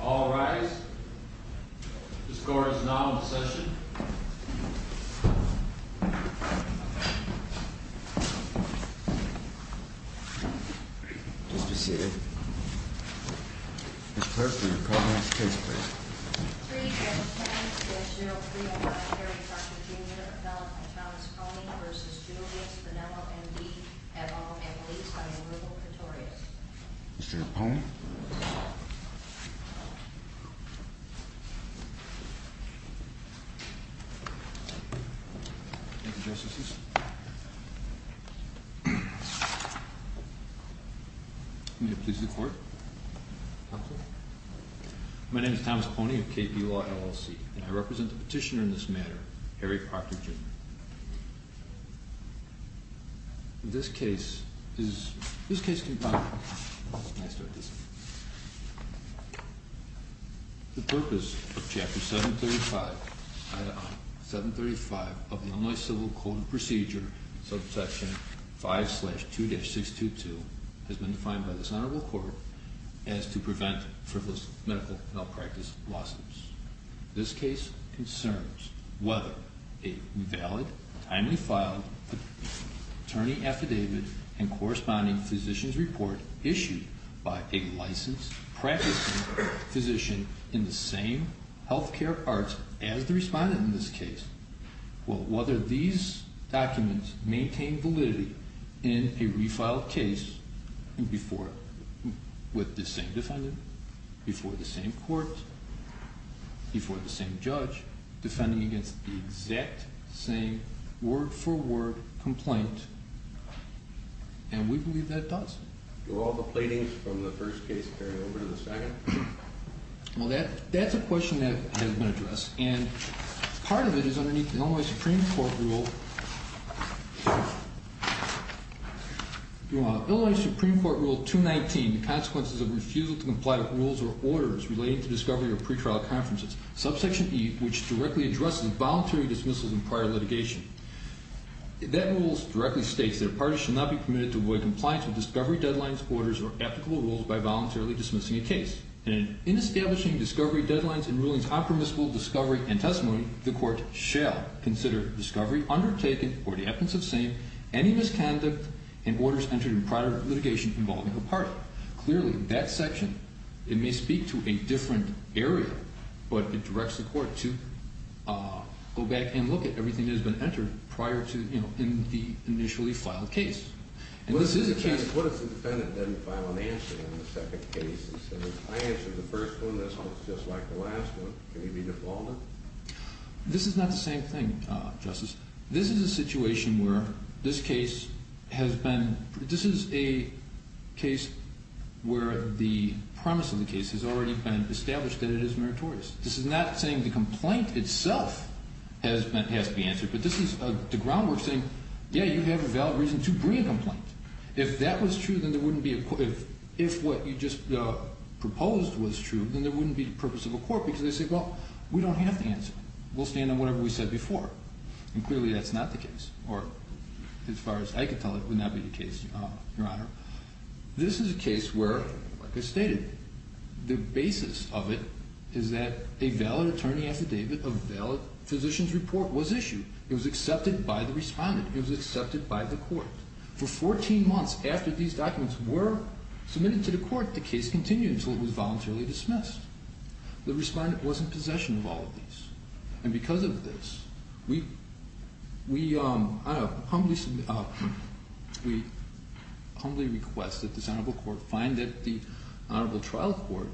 All rise. The score is now in session. Mr. Seated. Ms. Clark, will you call the next case, please? 3-10-6-0-3-0-5 Harry Parker, Jr. Felt and Thomas Pony v. Julius Bonello, M.D. M.O. and released on the removal of Pretorius. Mr. Pony. Thank you, Justice. May it please the Court. Counsel. My name is Thomas Pony of KP Law, LLC, and I represent the petitioner in this matter, Harry Parker, Jr. This case is... This case... May I start this one? The purpose of Chapter 735, Item 735 of the Illinois Civil Code of Procedure, Subsection 5-2-622, has been defined by this Honorable Court as to prevent frivolous medical malpractice lawsuits. This case concerns whether a valid, timely filed attorney affidavit and corresponding physician's report issued by a licensed practicing physician in the same health care parts as the respondent in this case will, whether these documents maintain validity in a refiled case with the same defendant, before the same court, before the same judge, defending against the exact same word-for-word complaint. And we believe that it does. Do all the pleadings from the first case carry over to the second? Well, that's a question that has been addressed. And part of it is underneath the Illinois Supreme Court rule... Subsection E, which directly addresses voluntary dismissals in prior litigation. That rule directly states that... It may speak to a different area, but it directs the court to go back and look at everything that has been entered prior to, you know, in the initially filed case. And this is a case... This is not the same thing, Justice. This is a situation where this case has been... A case where the premise of the case has already been established that it is meritorious. This is not saying the complaint itself has to be answered, but this is the groundwork saying, yeah, you have a valid reason to bring a complaint. If that was true, then there wouldn't be a... If what you just proposed was true, then there wouldn't be the purpose of a court, because they say, well, we don't have the answer. We'll stand on whatever we said before. And clearly that's not the case. Or as far as I can tell, it would not be the case, Your Honor. This is a case where, like I stated, the basis of it is that a valid attorney affidavit, a valid physician's report was issued. It was accepted by the respondent. It was accepted by the court. For 14 months after these documents were submitted to the court, the case continued until it was voluntarily dismissed. The respondent was in possession of all of these. And because of this, we... We humbly request that this Honorable Court find that the Honorable Trial Court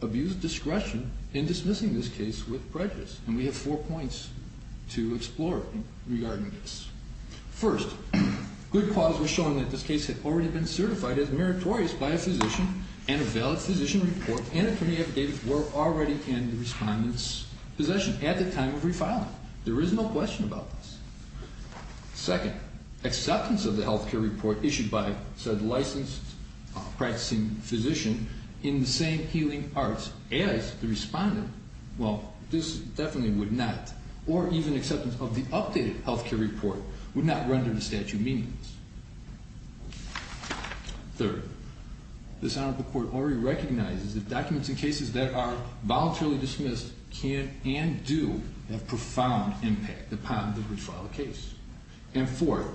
abused discretion in dismissing this case with prejudice. And we have four points to explore regarding this. First, good cause was shown that this case had already been certified as meritorious by a physician, and a valid physician report and attorney affidavit were already in the respondent's possession at the time of refiling. There is no question about this. Second, acceptance of the health care report issued by said licensed practicing physician in the same healing arts as the respondent, well, this definitely would not, or even acceptance of the updated health care report would not render the statute meaningless. Third, this Honorable Court already recognizes that documents in cases that are voluntarily dismissed can and do have profound impact upon the refiled case. And fourth,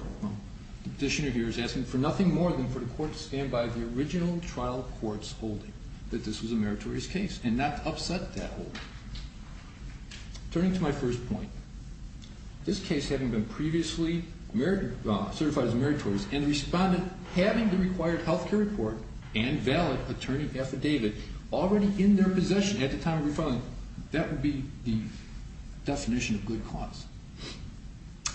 the petitioner here is asking for nothing more than for the Court to stand by the original trial court's holding that this was a meritorious case and not upset that holding. Turning to my first point, this case having been previously certified as meritorious and the respondent having the required health care report and valid attorney affidavit already in their possession at the time of refiling, that would be the definition of good cause.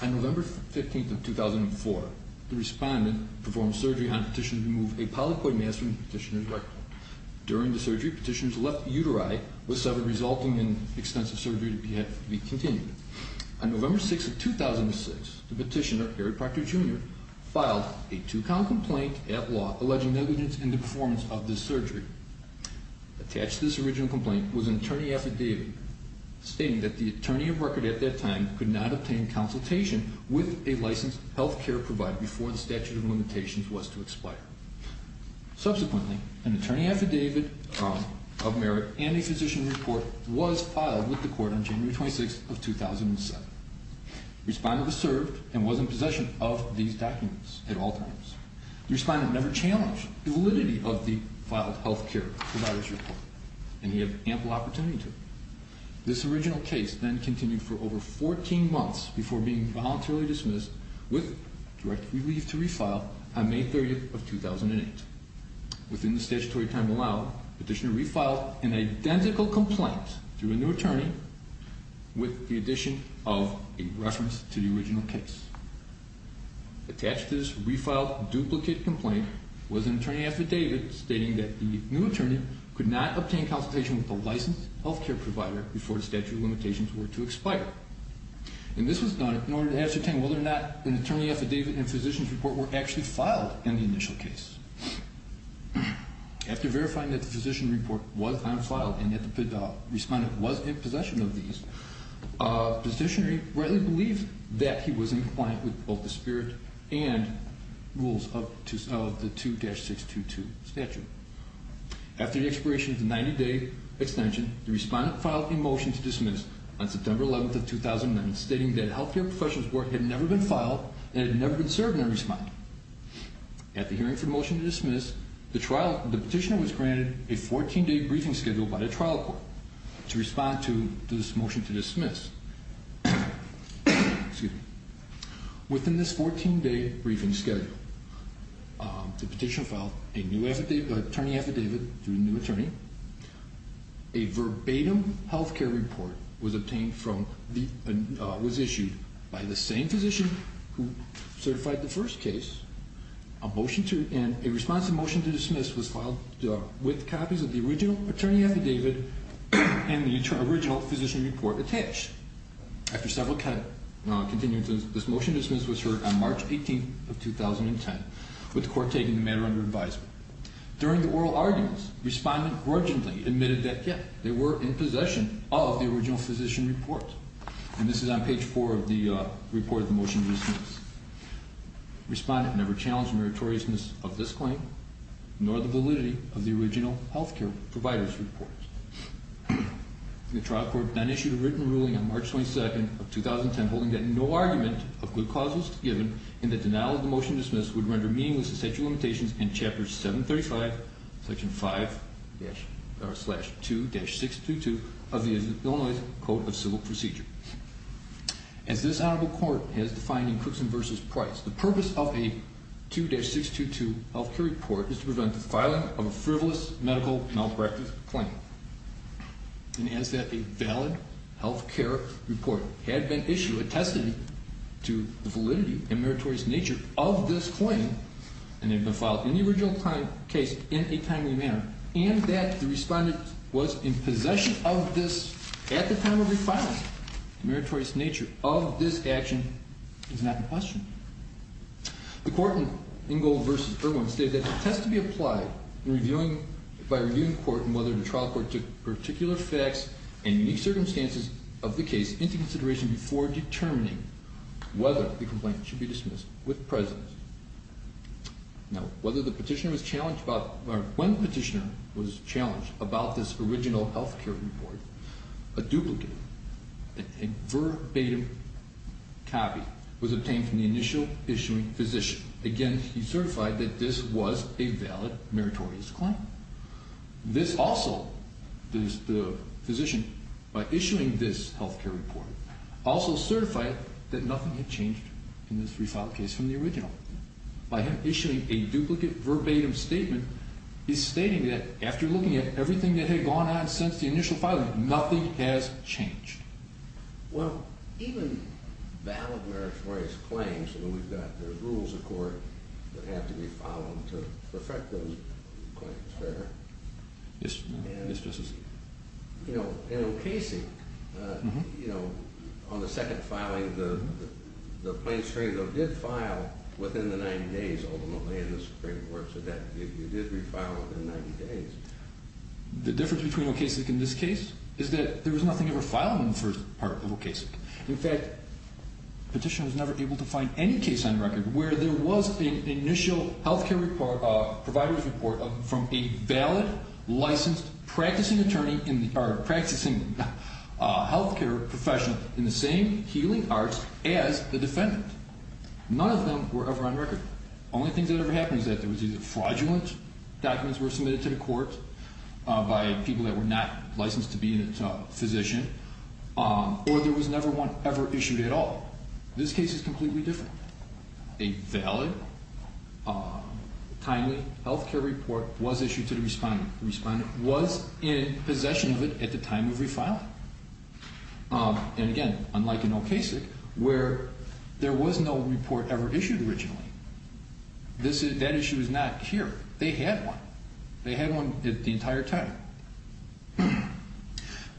On November 15th of 2004, the respondent performed surgery on a petitioner to remove a polyploid mass from the petitioner's rectum. During the surgery, the petitioner's left uteri was severed, resulting in extensive surgery to be continued. On November 6th of 2006, the petitioner, Eric Proctor Jr., filed a two-count complaint at law alleging negligence in the performance of this surgery. Attached to this original complaint was an attorney affidavit stating that the attorney of record at that time could not obtain consultation with a licensed health care provider before the statute of limitations was to expire. Subsequently, an attorney affidavit of merit and a physician report was filed with the Court on January 26th of 2007. The respondent was served and was in possession of these documents at all times. The respondent never challenged the validity of the filed health care provider's report, and he had ample opportunity to. This original case then continued for over 14 months before being voluntarily dismissed with direct relief to refile on May 30th of 2008. Within the statutory time allowed, the petitioner refiled an identical complaint through a new attorney with the addition of a reference to the original case. Attached to this refiled duplicate complaint was an attorney affidavit stating that the new attorney could not obtain consultation with a licensed health care provider before the statute of limitations were to expire. And this was done in order to ascertain whether or not an attorney affidavit and physician's report were actually filed in the initial case. After verifying that the physician report was unfiled and that the respondent was in possession of these, the petitioner rightly believed that he was in compliance with both the spirit and rules of the 2-622 statute. After the expiration of the 90-day extension, the respondent filed a motion to dismiss on September 11th of 2009, stating that a health care professional's work had never been filed and had never been served in a respondent. At the hearing for the motion to dismiss, the petitioner was granted a 14-day briefing schedule by the trial court to respond to this motion to dismiss. Within this 14-day briefing schedule, the petitioner filed a new attorney affidavit to a new attorney, a verbatim health care report was issued by the same physician who certified the first case, and a response to the motion to dismiss was filed with copies of the original attorney affidavit and the original physician report attached. After several continuances, this motion to dismiss was heard on March 18th of 2010, with the court taking the matter under advisement. During the oral arguments, the respondent grudgingly admitted that, yes, they were in possession of the original physician report. And this is on page 4 of the report of the motion to dismiss. The respondent never challenged the meritoriousness of this claim nor the validity of the original health care provider's report. The trial court then issued a written ruling on March 22nd of 2010 holding that no argument of good cause was given and that denial of the motion to dismiss would render meaningless the statute of limitations in Chapter 735, Section 5-2-622 of the Illinois Code of Civil Procedure. As this honorable court has defined in Cookson v. Price, the purpose of a 2-622 health care report is to prevent the filing of a frivolous medical malpractice claim. And as that a valid health care report had been issued attesting to the validity and meritorious nature of this claim and had been filed in the original case in a timely manner and that the respondent was in possession of this at the time of refinement, the meritorious nature of this action is not in question. The court in Ingold v. Irwin stated that it has to be applied by reviewing the court in whether the trial court took particular facts and unique circumstances of the case into consideration before determining whether the complaint should be dismissed with presence. Now, when the petitioner was challenged about this original health care report, a duplicate, a verbatim copy was obtained from the initial issuing physician. Again, he certified that this was a valid meritorious claim. This also, the physician, by issuing this health care report also certified that nothing had changed in this refiled case from the original. By him issuing a duplicate verbatim statement, he's stating that after looking at everything that had gone on since the initial filing, nothing has changed. Well, even valid meritorious claims, when we've got the rules of court that have to be followed to perfect those claims, it's fair. Yes, Justice. You know, in O'Casey, you know, on the second filing, the plaintiff's hearing though, did file within the 90 days, ultimately in the Supreme Court, so that you did refile within 90 days. The difference between O'Casey and this case is that there was nothing ever filed in the first part of O'Casey. In fact, the petitioner was never able to find any case on record where there was an initial health care provider's report from a valid, licensed, practicing attorney, practicing health care professional in the same healing arts as the defendant. None of them were ever on record. The only thing that ever happened was that there was either fraudulent documents were submitted to the court by people that were not licensed to be a physician, or there was never one ever issued at all. This case is completely different. A valid, timely health care report was issued to the respondent. The respondent was in possession of it at the time of refiling. And again, unlike in O'Casey, where there was no report ever issued originally, that issue is not here. They had one. They had one the entire time.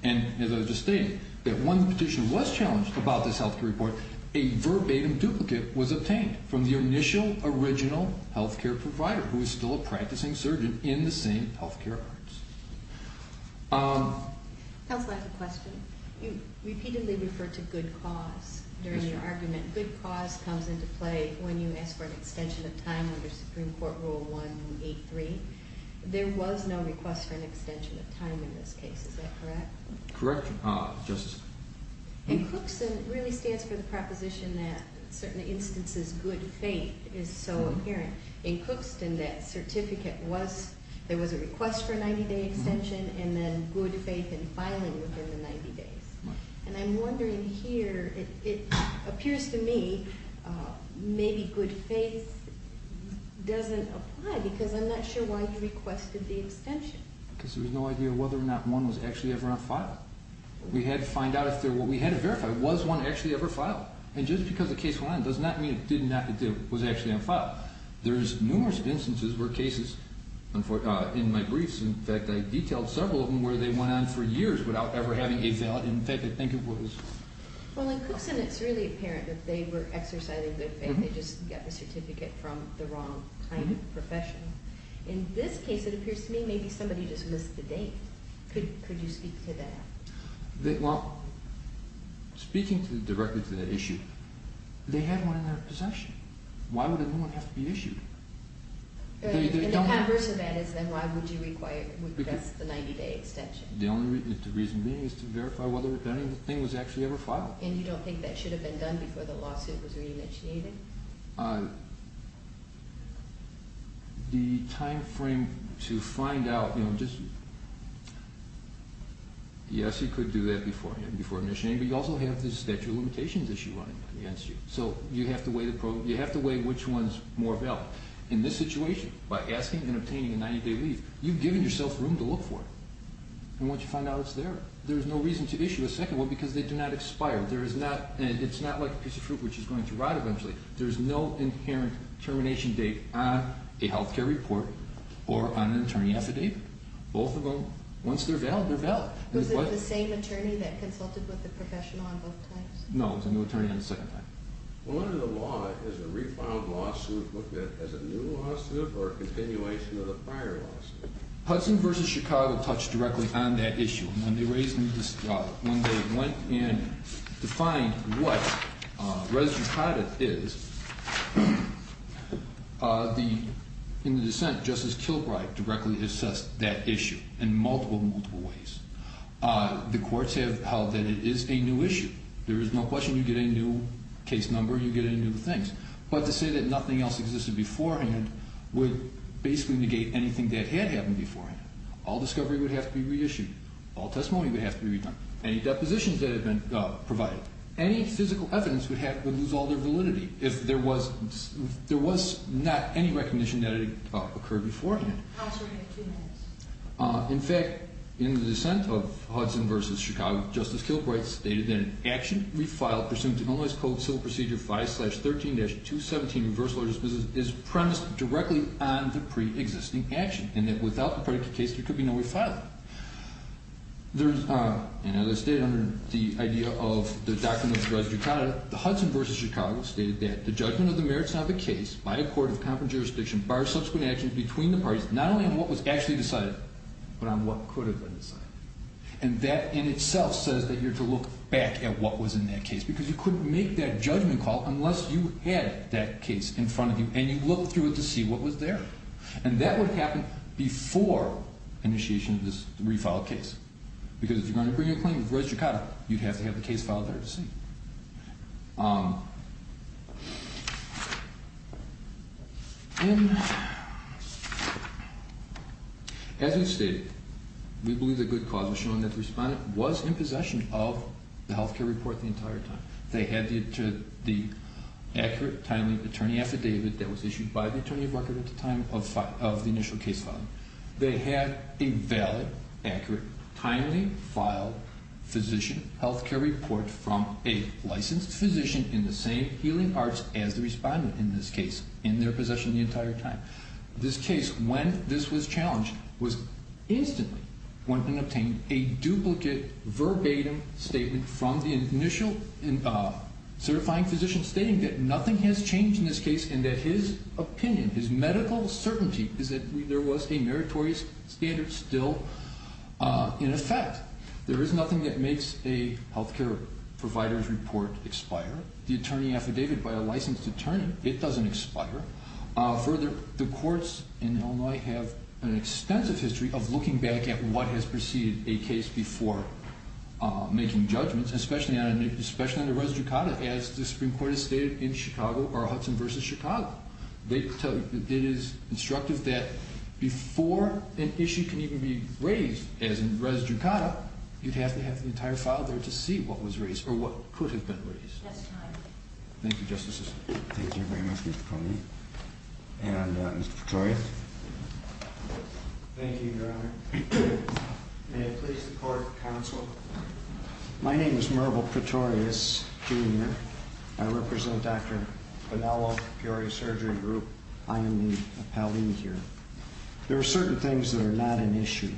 And as I was just stating, that when the petitioner was challenged about this health care report, a verbatim duplicate was obtained from the initial, original health care provider who was still a practicing surgeon in the same health care arts. Counsel, I have a question. You repeatedly refer to good cause during your argument. Good cause comes into play when you ask for an extension of time under Supreme Court Rule 183. There was no request for an extension of time in this case. Is that correct? Correct. Justice? In Crookston, it really stands for the proposition that in certain instances, good faith is so apparent. In Crookston, that certificate was, there was a request for a 90-day extension, and then good faith in filing within the 90 days. And I'm wondering here, it appears to me, maybe good faith doesn't apply because I'm not sure why you requested the extension. Because there was no idea whether or not one was actually ever on file. We had to find out if there were, we had to verify, was one actually ever filed? And just because a case went on does not mean it did not, that it was actually on file. There's numerous instances where cases, in my briefs, in fact, I detailed several of them where they went on for years without ever having a valid, in fact, I think it was... Well, in Crookston, it's really apparent that they were exercising good faith. They just got the certificate from the wrong kind of professional. In this case, it appears to me, maybe somebody just missed the date. Could you speak to that? Well, speaking directly to that issue, they had one in their possession. Why would a new one have to be issued? And the converse of that is, then why would you request the 90-day extension? The only reason being is to verify whether anything was actually ever filed. And you don't think that should have been done before the lawsuit was re-initiated? The time frame to find out... Yes, you could do that before initiating, but you also have the statute of limitations issue running against you. So you have to weigh which one's more valid. In this situation, by asking and obtaining a 90-day leave, you've given yourself room to look for it. And once you find out it's there, there's no reason to issue a second one because they do not expire. It's not like a piece of fruit which is going to rot eventually. There's no inherent termination date on a health care report or on an attorney affidavit. Both of them, once they're valid, they're valid. Was it the same attorney that consulted with the professional on both times? No, it was a new attorney on the second time. Hudson v. Chicago touched directly on that issue. When they went in to find what resident's habit is, in the dissent, Justice Kilbride directly assessed that issue in multiple, multiple ways. The courts have held that it is a new issue. There is no question you get a new case number, you get new things. But to say that nothing else existed beforehand would basically negate anything that had happened beforehand. All discovery would have to be reissued. All testimony would have to be redone. Any depositions that had been provided. Any physical evidence would lose all their validity if there was not any recognition that it occurred beforehand. In fact, in the dissent of Hudson v. Chicago, Justice Kilbride stated that an action refiled pursuant to Illinois Code Civil Procedure 5-13-217 is premised directly on the pre-existing action and that without the predicate case, there could be no way to file it. And as I stated under the idea of the doctrine of res judicata, the Hudson v. Chicago stated that the judgment of the merits of the case by a court of competent jurisdiction bars subsequent actions between the parties not only on what was actually decided, but on what could have been decided. And that in itself says that you're to look back at what was in that case because you couldn't make that judgment call unless you had that case in front of you and you looked through it to see what was there. And that would have happened before initiation of this refiled case because if you're going to bring a claim of res judicata, you'd have to have the case filed there to see. As we've stated, we believe that good cause was shown that the respondent was in possession of the health care report the entire time. They had the accurate, timely attorney affidavit that was issued by the attorney of record at the time of the initial case filing. They had a valid, accurate, timely filed physician health care report from a licensed physician in the same healing arts as the respondent in this case in their possession the entire time. This case, when this was challenged, was instantly going to obtain a duplicate verbatim statement from the initial certifying physician stating that nothing has changed in this case and that his opinion, his medical certainty, is that there was a meritorious standard still in effect. There is nothing that makes a health care provider's report expire. The attorney affidavit by a licensed attorney, it doesn't expire. Further, the courts in Illinois have an extensive history of looking back at what has preceded a case before making judgments, especially on the res judicata, as the Supreme Court has stated in Chicago or Hudson v. Chicago. They tell you that it is instructive that before an issue can even be raised, as in res judicata, you'd have to have the entire file there to see what was raised or what could have been raised. Yes, Your Honor. Thank you, Justice. Thank you very much, Mr. Coney. And Mr. Pretorius? Thank you, Your Honor. May I please support counsel? My name is Merville Pretorius, Jr. I represent Dr. Bonello, Peoria Surgery Group. I am the appellee here. There are certain things that are not an issue.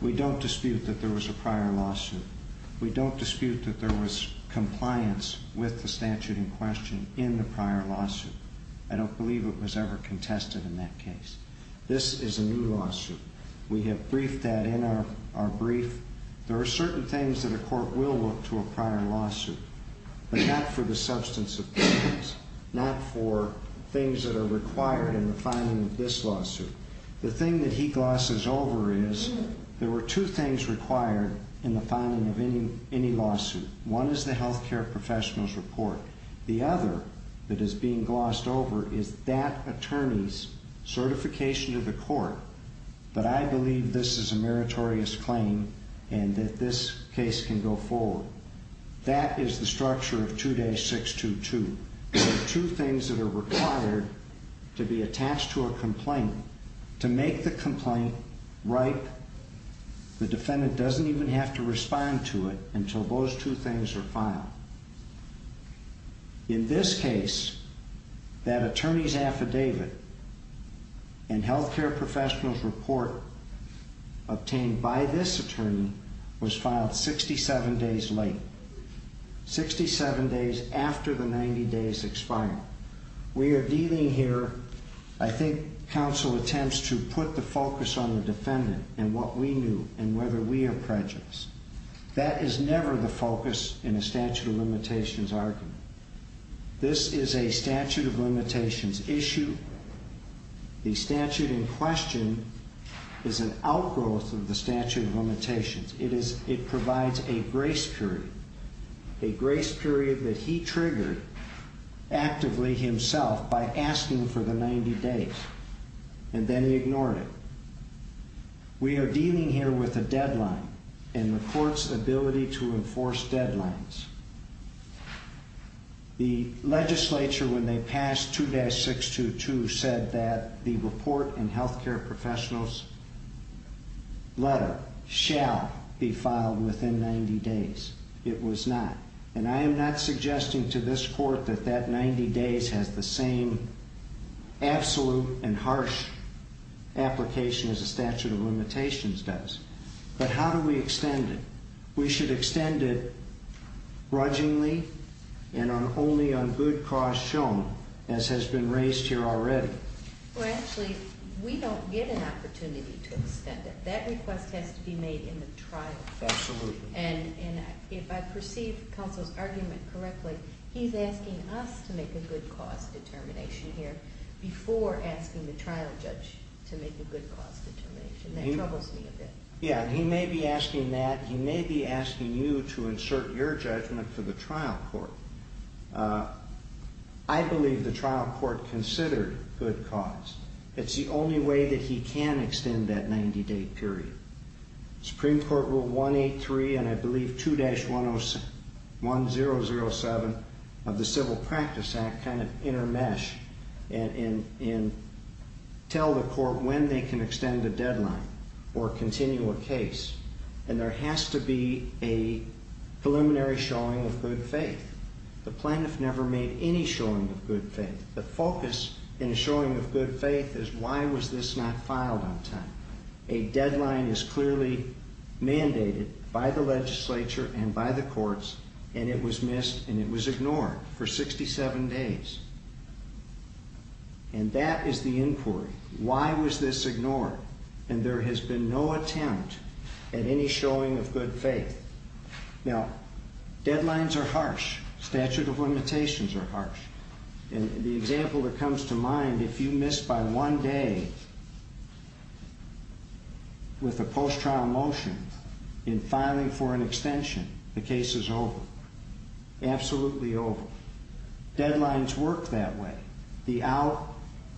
We don't dispute that there was a prior lawsuit. We don't dispute that there was compliance with the statute in question in the prior lawsuit. I don't believe it was ever contested in that case. This is a new lawsuit. We have briefed that in our brief. There are certain things that a court will look to for a prior lawsuit, but not for the substance of the case, not for things that are required in the filing of this lawsuit. The thing that he glosses over is there were two things required in the filing of any lawsuit. One is the health care professional's report. The other that is being glossed over is that attorney's certification to the court, but I believe this is a meritorious claim and that this case can go forward. That is the structure of 2-622. There are two things that are required to be attached to a complaint. To make the complaint ripe, the defendant doesn't even have to respond to it until those two things are filed. In this case, that attorney's affidavit and health care professional's report obtained by this attorney was filed 67 days late, 67 days after the 90 days expired. We are dealing here, I think, counsel attempts to put the focus on the defendant and what we knew and whether we are prejudiced. That is never the focus in a statute of limitations argument. This is a statute of limitations issue. The statute in question is an outgrowth of the statute of limitations. It provides a grace period, a grace period that he triggered actively himself by asking for the 90 days, and then he ignored it. We are dealing here with a deadline and the court's ability to enforce deadlines. The legislature, when they passed 2-622, said that the report and health care professional's letter shall be filed within 90 days. It was not. And I am not suggesting to this court that that 90 days has the same absolute and harsh application as a statute of limitations does. But how do we extend it? We should extend it grudgingly and only on good cause shown, as has been raised here already. Well, actually, we don't get an opportunity to extend it. That request has to be made in the trial. Absolutely. And if I perceive counsel's argument correctly, he's asking us to make a good cause determination here before asking the trial judge to make a good cause determination. That troubles me a bit. Yeah, he may be asking that. He may be asking you to insert your judgment for the trial court. I believe the trial court considered good cause. It's the only way that he can extend that 90-day period. Supreme Court Rule 183 and I believe 2-1007 of the Civil Practice Act kind of intermesh and tell the court when they can extend a deadline or continue a case. And there has to be a preliminary showing of good faith. The plaintiff never made any showing of good faith. The focus in a showing of good faith is why was this not filed on time. A deadline is clearly mandated by the legislature and by the courts, and it was missed and it was ignored for 67 days. And that is the inquiry. Why was this ignored? And there has been no attempt at any showing of good faith. Now, deadlines are harsh. Statute of limitations are harsh. And the example that comes to mind, if you miss by one day with a post-trial motion in filing for an extension, the case is over. Absolutely over. Deadlines work that way.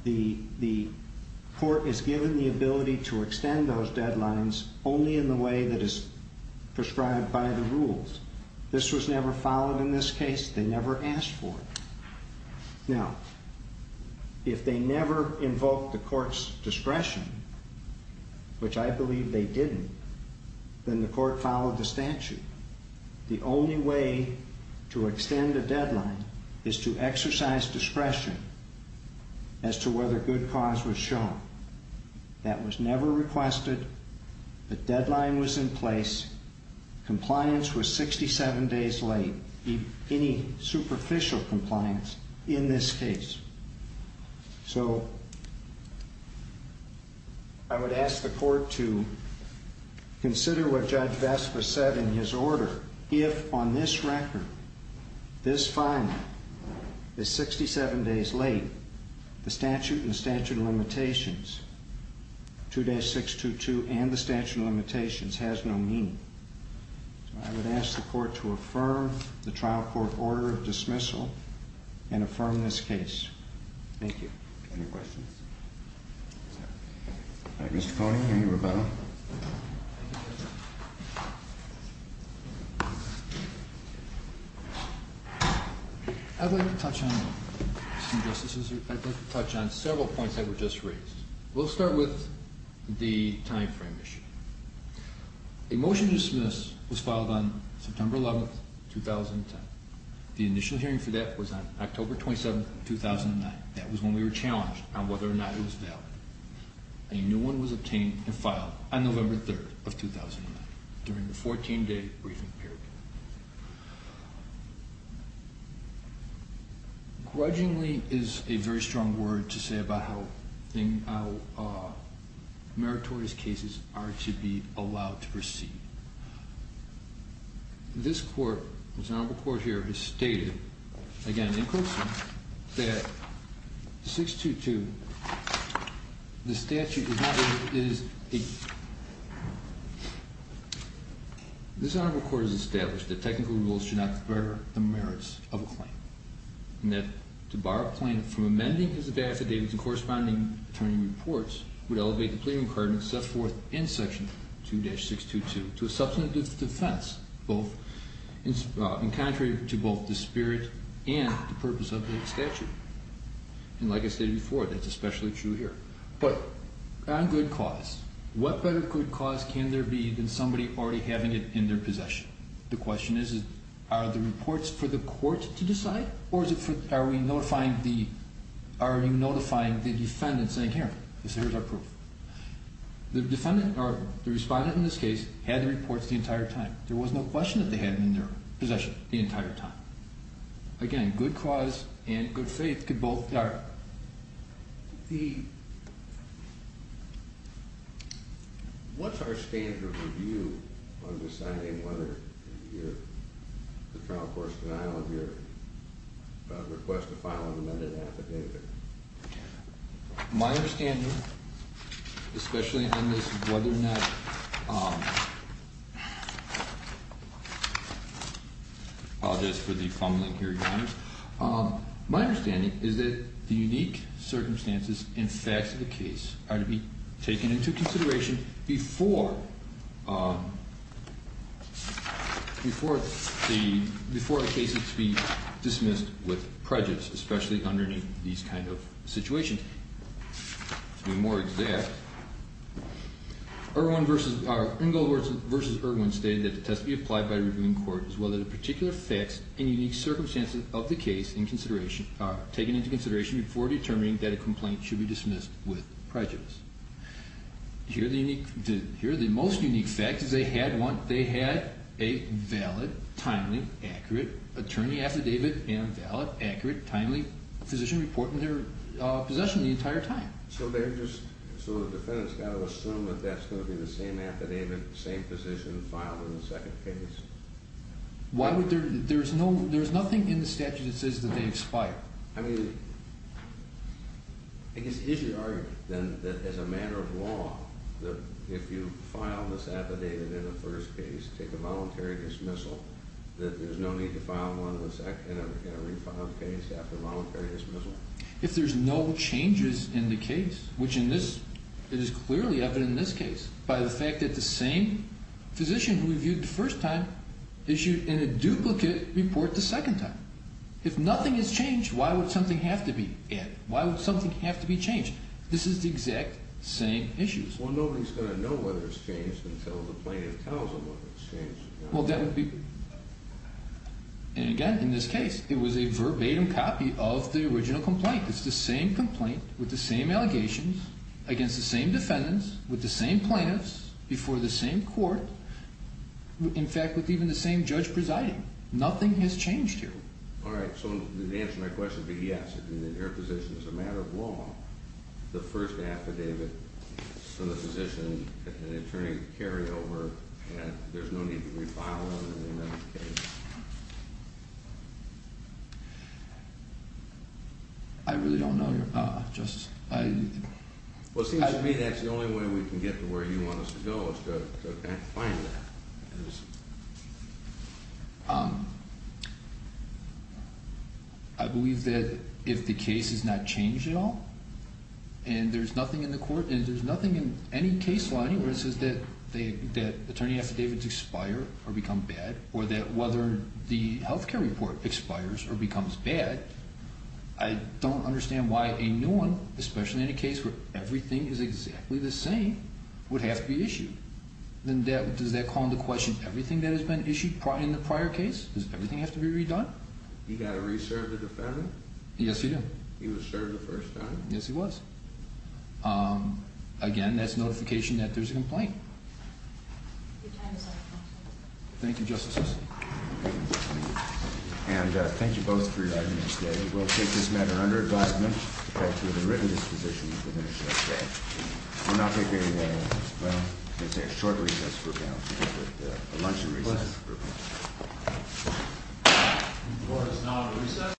The court is given the ability to extend those deadlines only in the way that is prescribed by the rules. This was never followed in this case. They never asked for it. Now, if they never invoked the court's discretion, which I believe they didn't, then the court followed the statute. The only way to extend a deadline is to exercise discretion as to whether good cause was shown. That was never requested. The deadline was in place. Compliance was 67 days late, any superficial compliance in this case. So I would ask the court to consider what Judge Vespa said in his order. If on this record, this filing is 67 days late, the statute and statute of limitations, 2-622, and the statute of limitations has no meaning. So I would ask the court to affirm the trial court order of dismissal and affirm this case. Thank you. Any questions? All right, Mr. Coney, any? Roberto? I'd like to touch on several points that were just raised. We'll start with the time frame issue. A motion to dismiss was filed on September 11, 2010. The initial hearing for that was on October 27, 2009. That was when we were challenged on whether or not it was valid. A new one was obtained and filed on November 3, 2009 during the 14-day briefing period. Grudgingly is a very strong word to say about how meritorious cases are to be allowed to proceed. This court, this honorable court here, has stated, again in quotes, that 622, the statute does not, it is, this honorable court has established that technical rules should not impair the merits of a claim and that to bar a plaintiff from amending his affidavits and corresponding attorney reports would elevate the plea requirement set forth in section 2-622 to a substantive defense, in contrary to both the spirit and the purpose of the statute. And like I stated before, that's especially true here. But on good cause, what better good cause can there be than somebody already having it in their possession? The question is, are the reports for the court to decide or are you notifying the defendant saying, here, here's our proof? The defendant, or the respondent in this case, had the reports the entire time. There was no question that they had them in their possession the entire time. Again, good cause and good faith could both are the... What's our standard review on deciding whether the trial court's denial of your request to file an amended affidavit? My understanding, especially on this whether or not... I apologize for the fumbling here, Your Honors. My understanding is that the unique circumstances and facts of the case are to be taken into consideration before a case is to be dismissed with prejudice, especially underneath these kind of situations. To be more exact, Ingle versus Irwin stated that the test be applied by the reviewing court as well as the particular facts and unique circumstances of the case are taken into consideration before determining that a complaint should be dismissed with prejudice. Here are the most unique facts. They had a valid, timely, accurate attorney affidavit and valid, accurate, timely physician report in their possession the entire time. So the defendant's got to assume that that's going to be the same affidavit, same physician filed in the second case? There's nothing in the statute that says that they expire. I guess if you argue then that as a matter of law, if you file this affidavit in the first case, take a voluntary dismissal, that there's no need to file one in a refiled case after a voluntary dismissal. If there's no changes in the case, which in this, it is clearly evident in this case by the fact that the same physician who reviewed the first time issued a duplicate report the second time. If nothing has changed, why would something have to be added? Why would something have to be changed? This is the exact same issues. Well, nobody's going to know whether it's changed until the plaintiff tells them whether it's changed. Well, that would be, and again, in this case, it was a verbatim copy of the original complaint. It's the same complaint with the same allegations against the same defendants, with the same plaintiffs, before the same court, in fact, with even the same judge presiding. Nothing has changed here. All right, so to answer my question, but yes, in your position as a matter of law, the first affidavit for the physician, an attorney to carry over, and there's no need to refile it in another case? I really don't know, Justice. Well, it seems to me that's the only way we can get to where you want us to go is to find that. I believe that if the case is not changed at all, and there's nothing in the court, there's no case law anywhere that says that attorney affidavits expire or become bad, or that whether the health care report expires or becomes bad, I don't understand why a new one, especially in a case where everything is exactly the same, would have to be issued. Does that call into question everything that has been issued in the prior case? Does everything have to be redone? He got a re-serve of the defendant? Yes, he did. He was served the first time? Yes, he was. Again, that's notification that there's a complaint. Thank you, Justice Wilson. And thank you both for your attendance today. We'll take this matter under advisement to go through the written disposition and finish it up today. We'll now take a, well, I'm going to say a short recess for now. We'll take a luncheon recess for now. The court is now at recess.